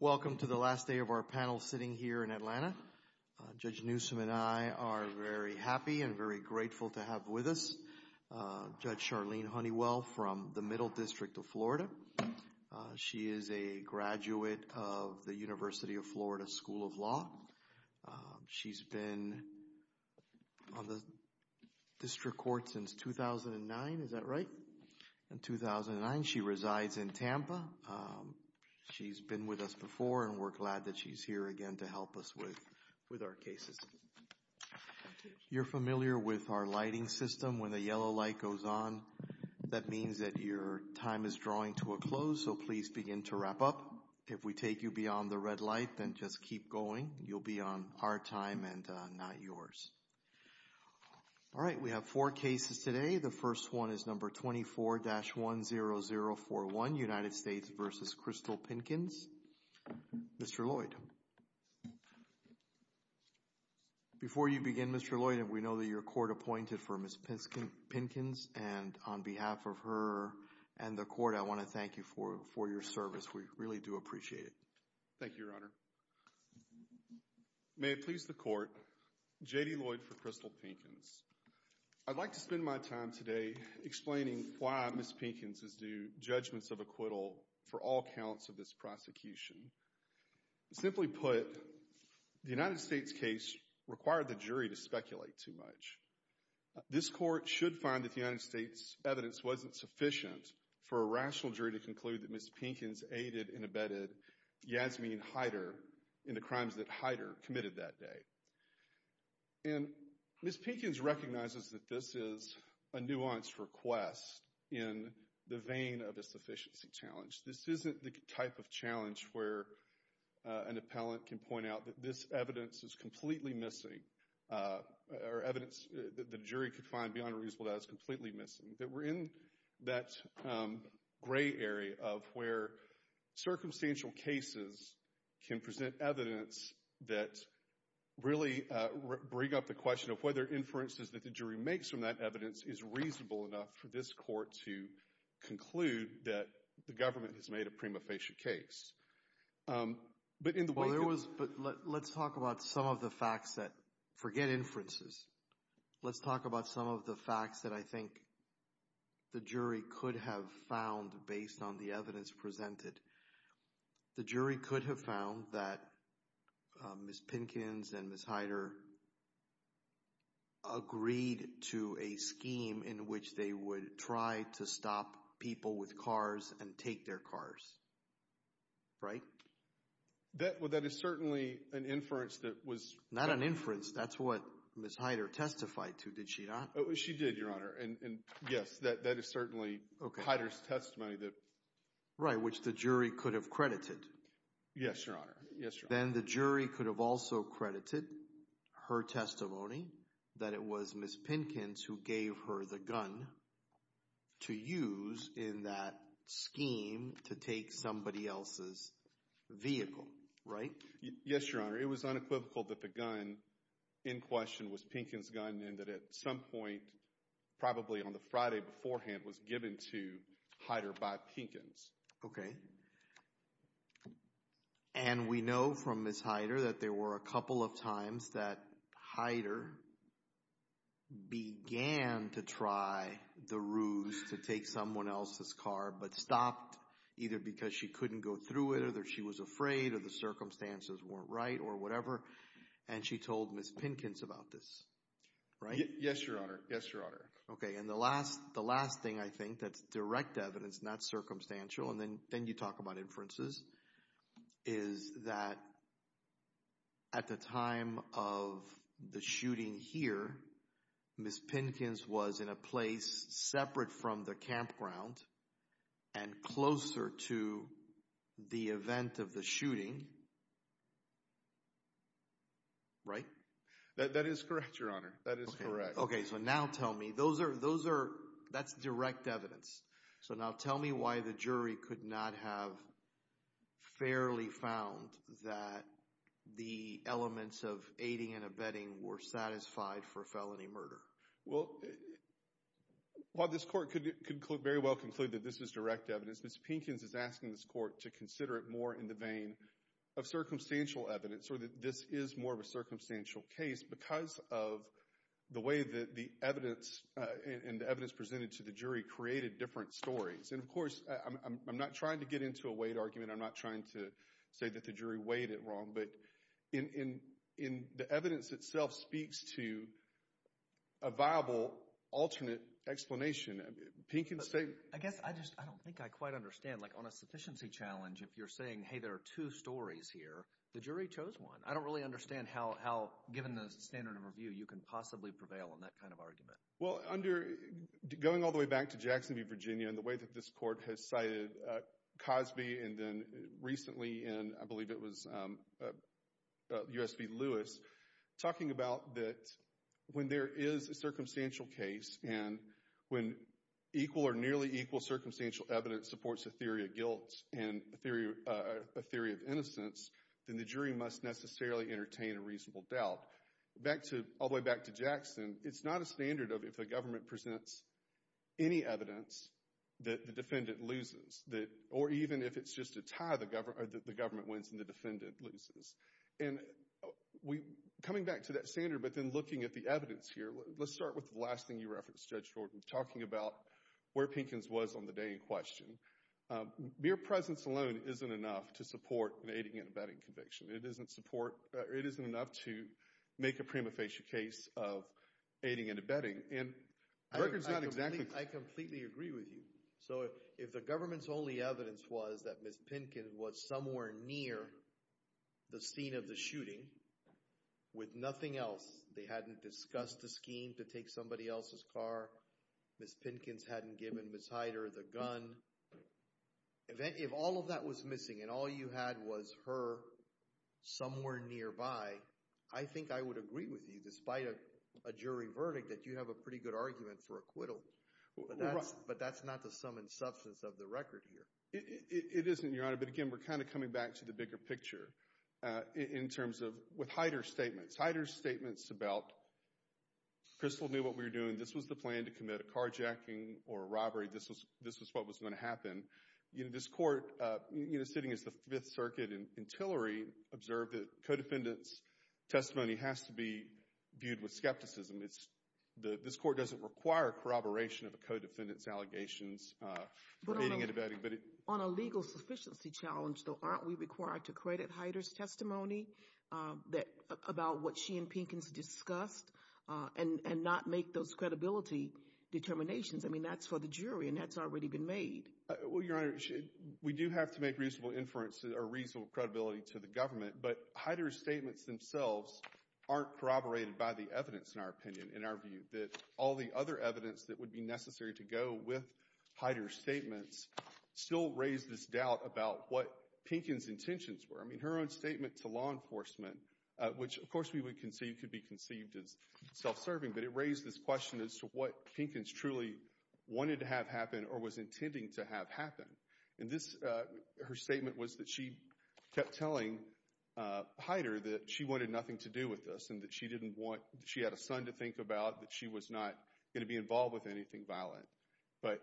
Welcome to the last day of our panel sitting here in Atlanta. Judge Newsom and I are very happy and very grateful to have with us Judge Charlene Honeywell from the Middle District of Florida. She is a graduate of the University of Florida School of Law. She's been on the district court since 2009. Is that right? In 2009, she resides in Tampa. She's been with us before, and we're glad that she's here again to help us with our cases. You're familiar with our lighting system. When the yellow light goes on, that means that your time is drawing to a close, so please begin to wrap up. If we take you beyond the red light, then just keep going. You'll be on our time and not yours. All right, we have four cases today. The first one is number 24-10041, United States v. Krystal Pinkins. Mr. Lloyd, before you begin, Mr. Lloyd, we know that you're court-appointed for Ms. Pinkins, and on behalf of her and the court, I want to thank you for your service. We really do appreciate it. Thank you, Your Honor. May it please the court, J.D. Lloyd for Krystal Pinkins. I'd like to spend my time today explaining why Ms. Pinkins is due judgments of acquittal for all counts of this prosecution. Simply put, the United States case required the jury to speculate too much. This court should find that the United States evidence wasn't sufficient for a rational jury to conclude that Ms. Pinkins aided and abetted Yasmeen Haider in the crimes that Haider committed that day. And Ms. Pinkins recognizes that this is a nuanced request in the vein of a sufficiency challenge. This isn't the type of challenge where an appellant can point out that this evidence is completely missing, or evidence that the jury could find beyond a reasonable doubt is completely missing. That we're in that gray area of where circumstantial cases can present evidence that really bring up the question of whether inferences that the jury makes from that evidence is reasonable enough for this court to conclude that the government has made a prima facie case. But in the wake of... Well, there was, but let's talk about some of the facts that, forget inferences, let's talk about some of the facts that I think the jury could have found based on the evidence presented. The jury could have found that Ms. Pinkins and Ms. Haider agreed to a scheme in which they would try to stop people with cars and take their cars, right? That is certainly an inference that was... Not an inference. That's what Ms. Haider testified to, did she not? She did, Your Honor, and yes, that is certainly Haider's testimony that... Right, which the jury could have credited. Yes, Your Honor. Yes, Your Honor. Then the jury could have also credited her testimony that it was Ms. Pinkins who gave her the gun to use in that scheme to take somebody else's vehicle, right? Yes, Your Honor. It was unequivocal that the gun in question was Pinkins' gun and that at some point, probably on the Friday beforehand, was given to Haider by Pinkins. Okay. And we know from Ms. Haider that there were a couple of times that Haider began to try the ruse to take someone else's car, but stopped either because she couldn't go through it or she was afraid or the circumstances weren't right or whatever, and she told Ms. Pinkins about this, right? Yes, Your Honor. Yes, Your Honor. Okay, and the last thing I think that's direct evidence, not circumstantial, and then you talk about inferences, is that at the time of the shooting here, Ms. Pinkins was in a shooting, right? That is correct, Your Honor. That is correct. Okay, so now tell me, those are, that's direct evidence. So now tell me why the jury could not have fairly found that the elements of aiding and abetting were satisfied for felony murder. Well, while this Court could very well conclude that this is direct evidence, Ms. Pinkins is asking this Court to consider it more in the vein of circumstantial evidence, or that this is more of a circumstantial case because of the way that the evidence, and the evidence presented to the jury, created different stories, and of course, I'm not trying to get into a weight argument. I'm not trying to say that the jury weighed it wrong, but in the evidence itself speaks to a viable alternate explanation. Pinkins stated— I guess I just, I don't think I quite understand, like on a sufficiency challenge, if you're saying, hey, there are two stories here, the jury chose one. I don't really understand how, given the standard of review, you can possibly prevail on that kind of argument. Well, under, going all the way back to Jackson v. Virginia and the way that this Court has cited Cosby and then recently in, I believe it was U.S. v. Lewis, talking about that when there is a circumstantial case, and when equal or nearly equal circumstantial evidence supports a theory of guilt and a theory of innocence, then the jury must necessarily entertain a reasonable doubt. Back to, all the way back to Jackson, it's not a standard of if the government presents any evidence that the defendant loses, or even if it's just a tie, the government wins and the defendant loses. And we, coming back to that standard, but then looking at the evidence here, let's start with the last thing you referenced, Judge Jordan, talking about where Pinkins was on the day in question. Mere presence alone isn't enough to support an aiding and abetting conviction. It isn't support, it isn't enough to make a prima facie case of aiding and abetting, and records not exactly— I completely agree with you. So if the government's only evidence was that Ms. Pinkins was somewhere near the scene of the shooting, with nothing else, they hadn't discussed the scheme to take somebody else's car, Ms. Pinkins hadn't given Ms. Hyder the gun, if all of that was missing and all you had was her somewhere nearby, I think I would agree with you, despite a jury verdict, that you have a pretty good argument for acquittal. But that's not the sum and substance of the record here. It isn't, Your Honor, but again, we're kind of coming back to the bigger picture, in terms of, with Hyder's statements. Hyder's statements about, Crystal knew what we were doing, this was the plan to commit a carjacking or a robbery, this was what was going to happen. This court, sitting as the Fifth Circuit, and Tillery observed that a co-defendant's testimony has to be viewed with skepticism. This court doesn't require corroboration of a co-defendant's allegations. On a legal sufficiency challenge, though, aren't we required to credit Hyder's testimony about what she and Pinkins discussed, and not make those credibility determinations? I mean, that's for the jury, and that's already been made. Well, Your Honor, we do have to make reasonable inference, or reasonable credibility to the But Hyder's statements themselves aren't corroborated by the evidence, in our opinion, in our view, that all the other evidence that would be necessary to go with Hyder's statements still raise this doubt about what Pinkins' intentions were. I mean, her own statement to law enforcement, which, of course, we would conceive could be conceived as self-serving, but it raised this question as to what Pinkins truly wanted to have happen, or was intending to have happen. And this, her statement was that she kept telling Hyder that she wanted nothing to do with this, and that she didn't want, she had a son to think about, that she was not going to be involved with anything violent. But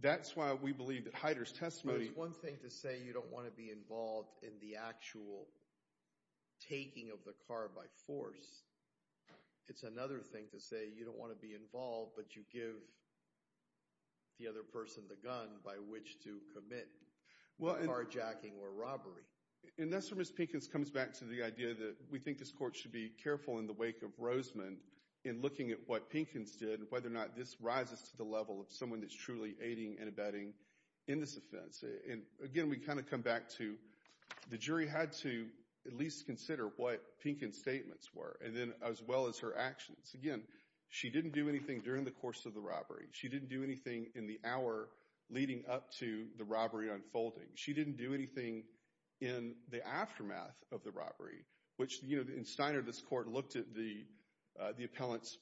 that's why we believe that Hyder's testimony Well, it's one thing to say you don't want to be involved in the actual taking of the car by force. It's another thing to say you don't want to be involved, but you give the other person the gun by which to commit carjacking or robbery. And that's where Ms. Pinkins comes back to the idea that we think this court should be careful in the wake of Rosemond in looking at what Pinkins did and whether or not this rises to the level of someone that's truly aiding and abetting in this offense. And again, we kind of come back to the jury had to at least consider what Pinkins' statements were, and then as well as her actions. Again, she didn't do anything during the course of the robbery. She didn't do anything in the hour leading up to the robbery unfolding. She didn't do anything in the aftermath of the robbery, which, you know, in Steiner, this court looked at the appellant's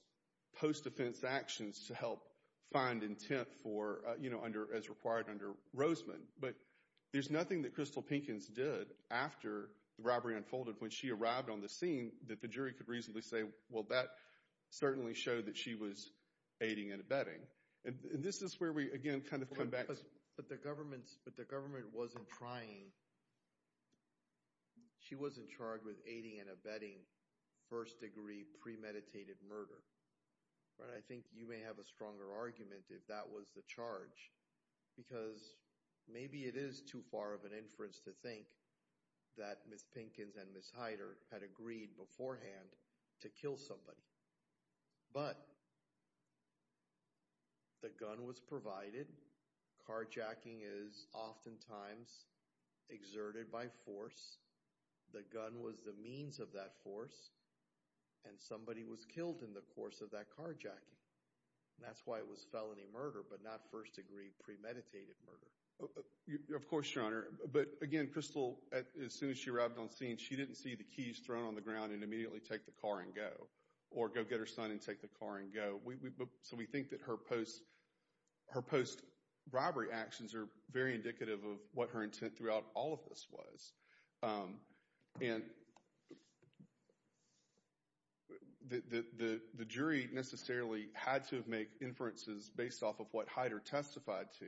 post-defense actions to help find intent for, you know, as required under Rosemond. But there's nothing that Crystal Pinkins did after the robbery unfolded when she arrived on the scene that the jury could reasonably say, well, that certainly showed that she was aiding and abetting. And this is where we, again, kind of come back to... But the government wasn't trying... She wasn't charged with aiding and abetting first-degree premeditated murder, but I think you may have a stronger argument if that was the charge, because maybe it is too far of an inference to think that Ms. Pinkins and Ms. Hyder had agreed beforehand to kill somebody. But the gun was provided, carjacking is oftentimes exerted by force, the gun was the means of that force, and somebody was killed in the course of that carjacking. That's why it was felony murder, but not first-degree premeditated murder. Of course, Your Honor, but again, Crystal, as soon as she arrived on scene, she didn't see the keys thrown on the ground and immediately take the car and go, or go get her son and take the car and go. So we think that her post-robbery actions are very indicative of what her intent throughout all of this was, and the jury necessarily had to have made inferences based off of what Hyder testified to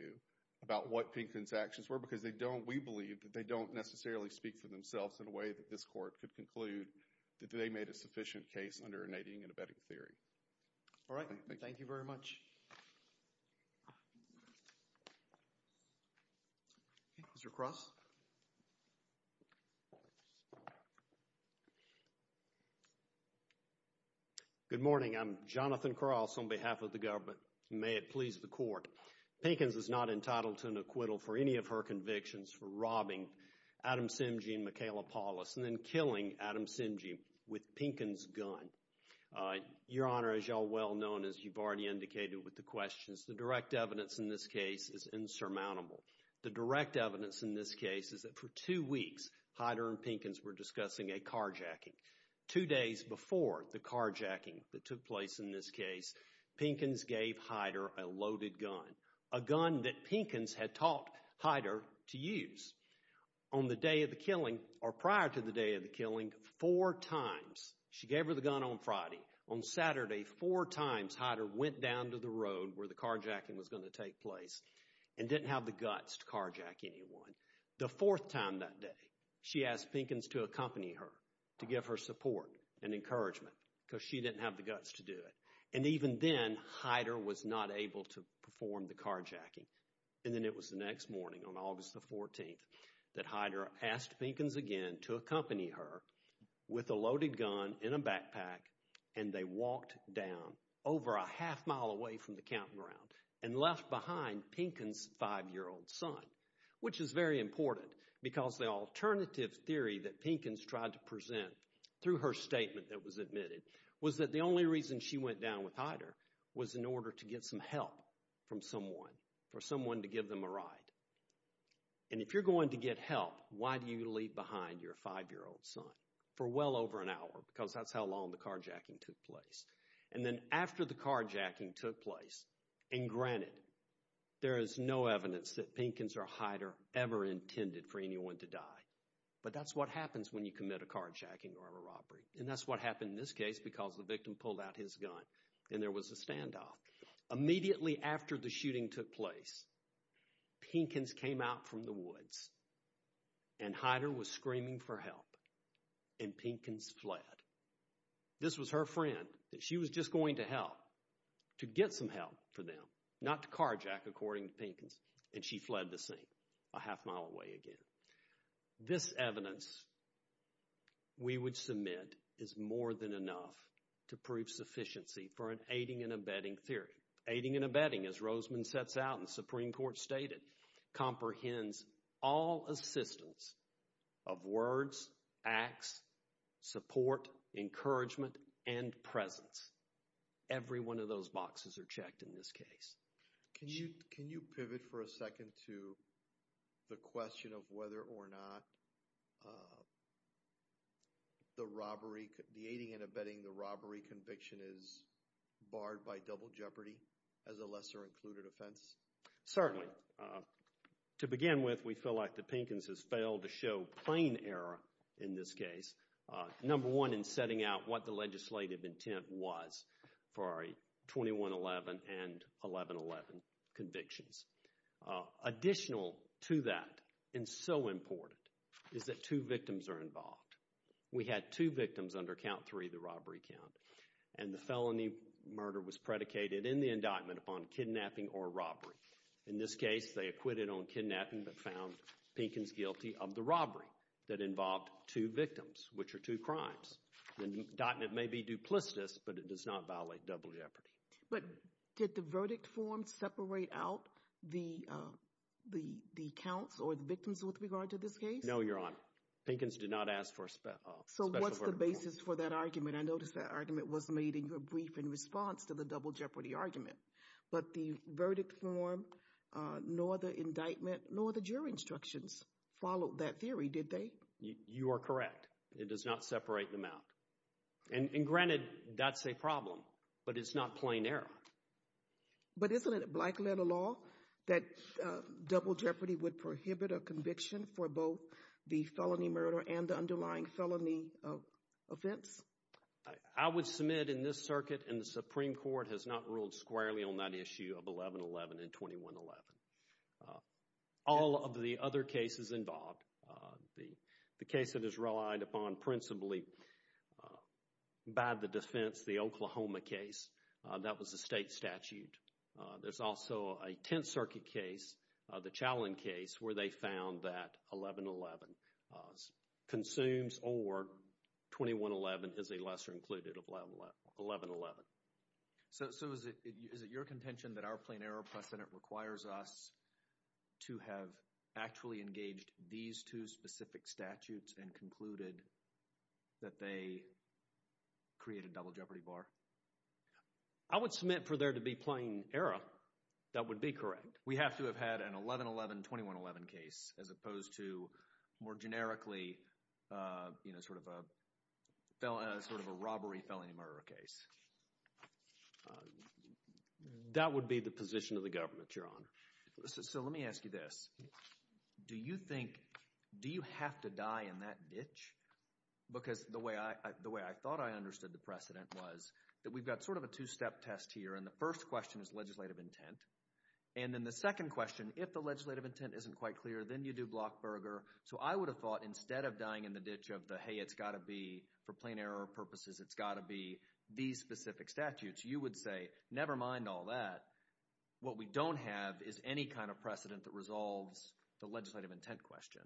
about what Pinkins' actions were, because they don't... We believe that they don't necessarily speak for themselves in a way that this Court could conclude that they made a sufficient case under a Nadine and Abedek theory. All right. Thank you. Thank you very much. Okay. Mr. Cross? Good morning. I'm Jonathan Cross on behalf of the government, and may it please the Court, Pinkins is not entitled to an acquittal for any of her convictions for robbing Adam Simjian and Michaela Paulus and then killing Adam Simjian with Pinkins' gun. Your Honor, as you all well know, and as you've already indicated with the questions, the direct evidence in this case is insurmountable. The direct evidence in this case is that for two weeks, Hyder and Pinkins were discussing a carjacking. Two days before the carjacking that took place in this case, Pinkins gave Hyder a loaded gun, a gun that Pinkins had taught Hyder to use. On the day of the killing, or prior to the day of the killing, four times, she gave her the gun on Friday. On Saturday, four times, Hyder went down to the road where the carjacking was going to take place and didn't have the guts to carjack anyone. The fourth time that day, she asked Pinkins to accompany her to give her support and encouragement because she didn't have the guts to do it. And even then, Hyder was not able to perform the carjacking. And then it was the next morning, on August the 14th, that Hyder asked Pinkins again to accompany her with a loaded gun in a backpack and they walked down over a half mile away from the campground and left behind Pinkins' five-year-old son, which is very important because the alternative theory that Pinkins tried to present through her statement that was admitted was that the only reason she went down with Hyder was in order to get some help from someone, for someone to give them a ride. And if you're going to get help, why do you leave behind your five-year-old son for well over an hour because that's how long the carjacking took place. And then after the carjacking took place, and granted, there is no evidence that Pinkins or Hyder ever intended for anyone to die, but that's what happens when you commit a carjacking or a robbery, and that's what happened in this case because the victim pulled out his gun and there was a standoff. Immediately after the shooting took place, Pinkins came out from the woods and Hyder was screaming for help and Pinkins fled. This was her friend, that she was just going to help, to get some help for them, not to carjack according to Pinkins, and she fled the scene a half mile away again. This evidence we would submit is more than enough to prove sufficiency for an aiding and abetting theory. Aiding and abetting, as Roseman sets out and the Supreme Court stated, comprehends all assistance of words, acts, support, encouragement, and presence. Every one of those boxes are checked in this case. Can you pivot for a second to the question of whether or not the aiding and abetting the robbery conviction is barred by double jeopardy as a lesser included offense? Certainly. To begin with, we feel like the Pinkins has failed to show plain error in this case. Number one in setting out what the legislative intent was for our 2111 and 1111 convictions. Additional to that, and so important, is that two victims are involved. We had two victims under count three, the robbery count, and the felony murder was predicated in the indictment upon kidnapping or robbery. In this case, they acquitted on kidnapping but found Pinkins guilty of the robbery that involved two victims, which are two crimes. The indictment may be duplicitous, but it does not violate double jeopardy. But did the verdict form separate out the counts or the victims with regard to this case? No, Your Honor. Pinkins did not ask for a special verdict form. So what's the basis for that argument? I noticed that argument was made in your brief in response to the double jeopardy argument. But the verdict form, nor the indictment, nor the jury instructions followed that theory, did they? You are correct. It does not separate them out. And granted, that's a problem, but it's not plain error. But isn't it black letter law that double jeopardy would prohibit a conviction for both the felony murder and the underlying felony offense? I would submit in this circuit and the Supreme Court has not ruled squarely on that issue of 1111 and 2111. All of the other cases involved, the case that is relied upon principally by the defense, the Oklahoma case, that was a state statute. There's also a Tenth Circuit case, the Challin case, where they found that 1111 consumes or 2111 is a lesser included of 1111. So is it your contention that our plain error precedent requires us to have actually engaged these two specific statutes and concluded that they create a double jeopardy bar? I would submit for there to be plain error. That would be correct. We have to have had an 1111, 2111 case as opposed to more generically, you know, sort of a robbery, felony murder case. That would be the position of the government, Your Honor. So let me ask you this. Do you think, do you have to die in that ditch? Because the way I thought I understood the precedent was that we've got sort of a two-step test here and the first question is legislative intent. And then the second question, if the legislative intent isn't quite clear, then you do Blockberger. So I would have thought instead of dying in the ditch of the, hey, it's got to be for plain error purposes, it's got to be these specific statutes, you would say, never mind all that. What we don't have is any kind of precedent that resolves the legislative intent question.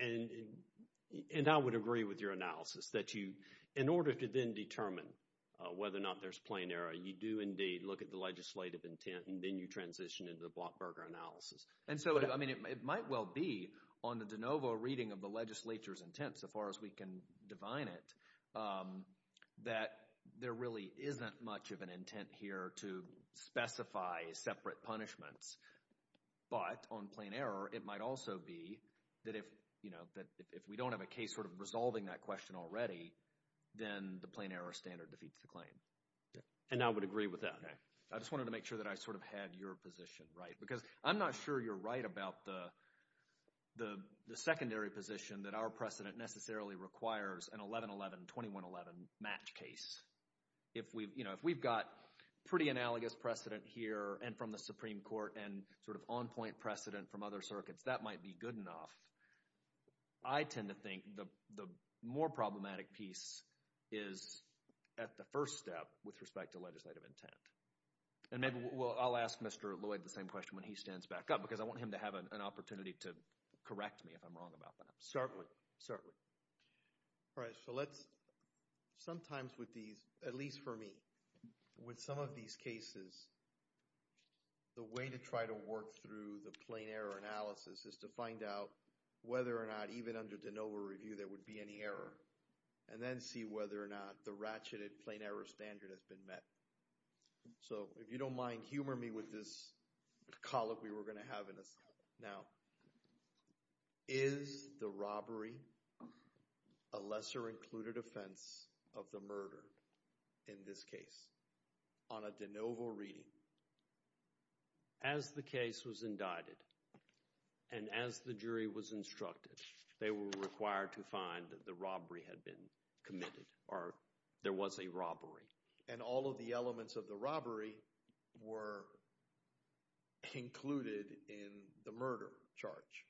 And I would agree with your analysis that you, in order to then determine whether or not there's plain error, you do indeed look at the legislative intent and then you transition into the Blockberger analysis. And so, I mean, it might well be on the de novo reading of the legislature's intent, so far as we can divine it, that there really isn't much of an intent here to specify separate punishments. But on plain error, it might also be that if, you know, that if we don't have a case sort of resolving that question already, then the plain error standard defeats the claim. And I would agree with that. I just wanted to make sure that I sort of had your position right. Because I'm not sure you're right about the secondary position that our precedent necessarily requires an 11-11, 21-11 match case. If we've, you know, if we've got pretty analogous precedent here and from the Supreme Court and sort of on-point precedent from other circuits, that might be good enough. I tend to think the more problematic piece is at the first step with respect to legislative intent. And maybe we'll, I'll ask Mr. Lloyd the same question when he stands back up. Because I want him to have an opportunity to correct me if I'm wrong about that. Certainly. All right. So let's, sometimes with these, at least for me, with some of these cases, the way to try to work through the plain error analysis is to find out whether or not even under de novo review there would be any error. And then see whether or not the ratcheted plain error standard has been met. So if you don't mind, humor me with this colloquy we're going to have in a second. Now, is the robbery a lesser included offense of the murder in this case on a de novo reading? As the case was indicted and as the jury was instructed, they were required to find the robbery had been committed, or there was a robbery. And all of the elements of the robbery were included in the murder charge.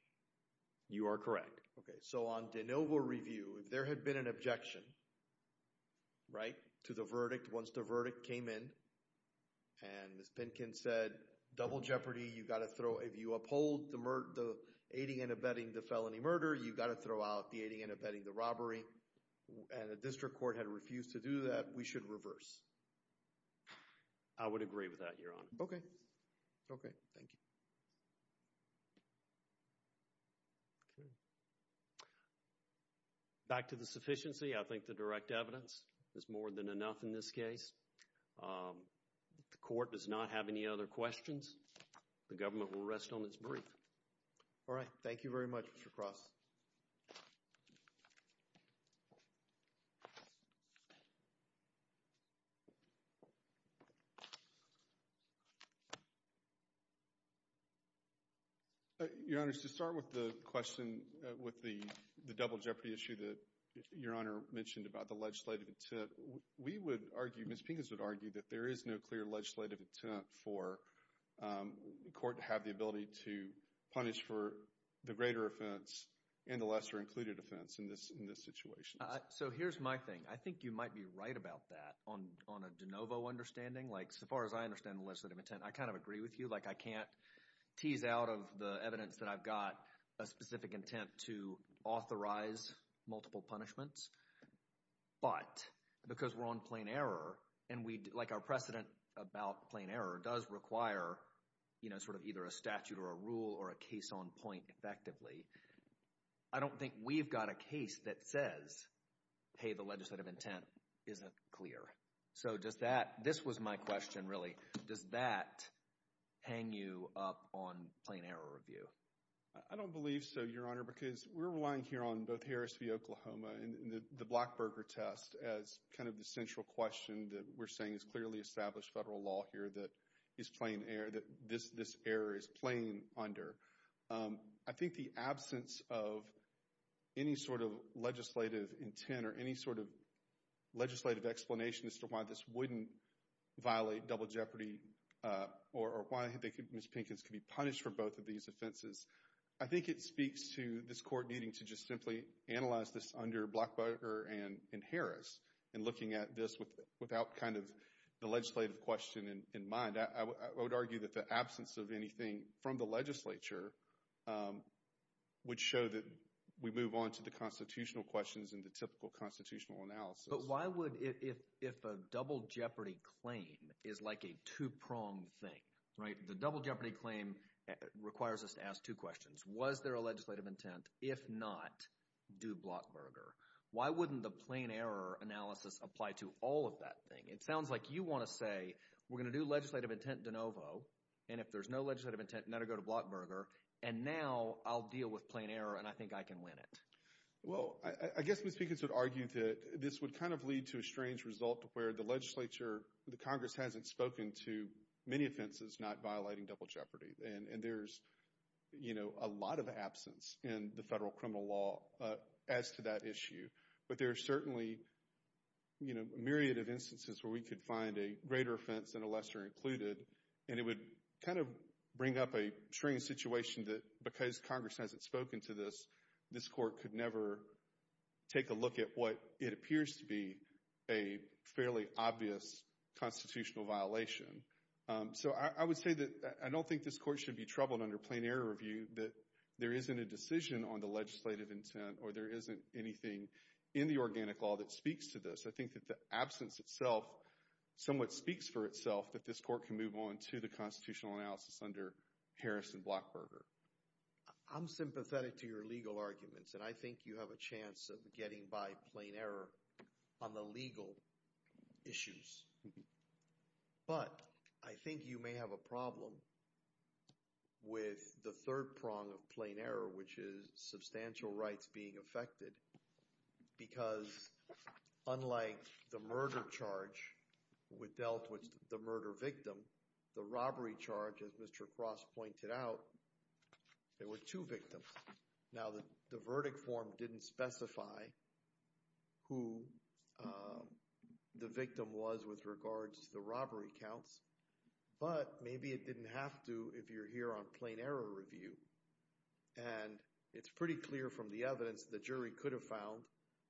You are correct. Okay. So on de novo review, if there had been an objection, right, to the verdict, once the verdict came in, and Ms. Pinkin said, double jeopardy, you've got to throw, if you uphold the murder, the aiding and abetting the felony murder, you've got to throw out the aiding and abetting the robbery, and the district court had refused to do that, we should reverse. I would agree with that, Your Honor. Okay. Okay. Thank you. Okay. Back to the sufficiency, I think the direct evidence is more than enough in this case. The court does not have any other questions. The government will rest on its brief. All right. Thank you very much, Mr. Cross. Your Honor, to start with the question, with the double jeopardy issue that Your Honor mentioned about the legislative intent, we would argue, Ms. Pinkins would argue, that there is no clear legislative intent for the court to have the ability to punish for the greater offense and the lesser included offense in this situation. So here's my thing. I think you might be right about that on a de novo understanding. Like so far as I understand the legislative intent, I kind of agree with you. Like I can't tease out of the evidence that I've got a specific intent to authorize multiple punishments, but because we're on plain error and we, like our precedent about plain error does require, you know, sort of either a statute or a rule or a case on point effectively, I don't think we've got a case that says, hey, the legislative intent isn't clear. So does that, this was my question really, does that hang you up on plain error review? I don't believe so, Your Honor, because we're relying here on both Harris v. Oklahoma and the Blackburger test as kind of the central question that we're saying is clearly established federal law here that is plain error, that this error is plain under. I think the absence of any sort of legislative intent or any sort of legislative explanation as to why this wouldn't violate double jeopardy or why Ms. Pinkins could be punished for both of these offenses, I think it speaks to this court needing to just simply analyze this under Blackburger and Harris and looking at this without kind of the legislative question in mind. I would argue that the absence of anything from the legislature would show that we move on to the constitutional questions and the typical constitutional analysis. But why would, if a double jeopardy claim is like a two-pronged thing, right? The double jeopardy claim requires us to ask two questions. Was there a legislative intent? If not, do Blackburger? Why wouldn't the plain error analysis apply to all of that thing? It sounds like you want to say we're going to do legislative intent de novo and if there's no legislative intent, never go to Blackburger and now I'll deal with plain error and I think I can win it. Well, I guess Ms. Pinkins would argue that this would kind of lead to a strange result where the legislature, the Congress hasn't spoken to many offenses not violating double jeopardy and there's, you know, a lot of absence in the federal criminal law as to that issue. But there are certainly, you know, a myriad of instances where we could find a greater offense and a lesser included and it would kind of bring up a strange situation that because Congress hasn't spoken to this, this court could never take a look at what it appears to be a fairly obvious constitutional violation. So I would say that I don't think this court should be troubled under plain error review that there isn't a decision on the legislative intent or there isn't anything in the organic law that speaks to this. I think that the absence itself somewhat speaks for itself that this court can move on to the constitutional analysis under Harris and Blackburger. I'm sympathetic to your legal arguments and I think you have a chance of getting by plain error on the legal issues. But I think you may have a problem with the third prong of plain error which is substantial rights being affected because unlike the murder charge which dealt with the murder victim, the robbery charge as Mr. Cross pointed out, there were two victims. Now the verdict form didn't specify who the victim was with regards to the robbery counts but maybe it didn't have to if you're here on plain error review and it's pretty clear from the evidence the jury could have found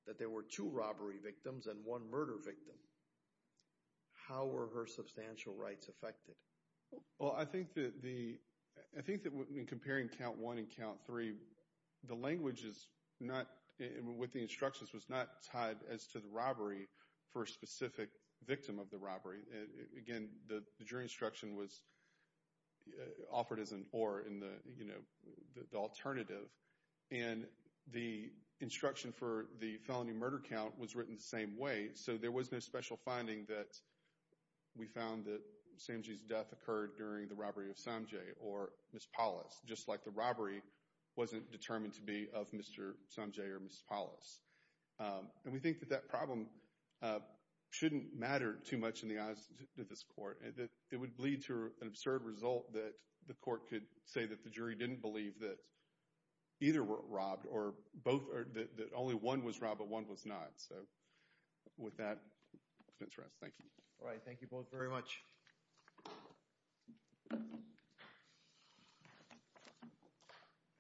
that there were two robbery victims and one murder victim. How were her substantial rights affected? Well, I think that in comparing count one and count three, the language with the instructions was not tied as to the robbery for a specific victim of the robbery. Again, the jury instruction was offered as an or in the alternative and the instruction for the felony murder count was written the same way so there was no special finding that we found that Sanjay's death occurred during the robbery of Sanjay or Ms. Paulus just like the robbery wasn't determined to be of Mr. Sanjay or Ms. Paulus. And we think that that problem shouldn't matter too much in the eyes of this court. It would bleed to an absurd result that the court could say that the jury didn't believe that either were robbed or both or that only one was robbed but one was not. So with that, let's rest. Thank you. All right. Thank you both very much.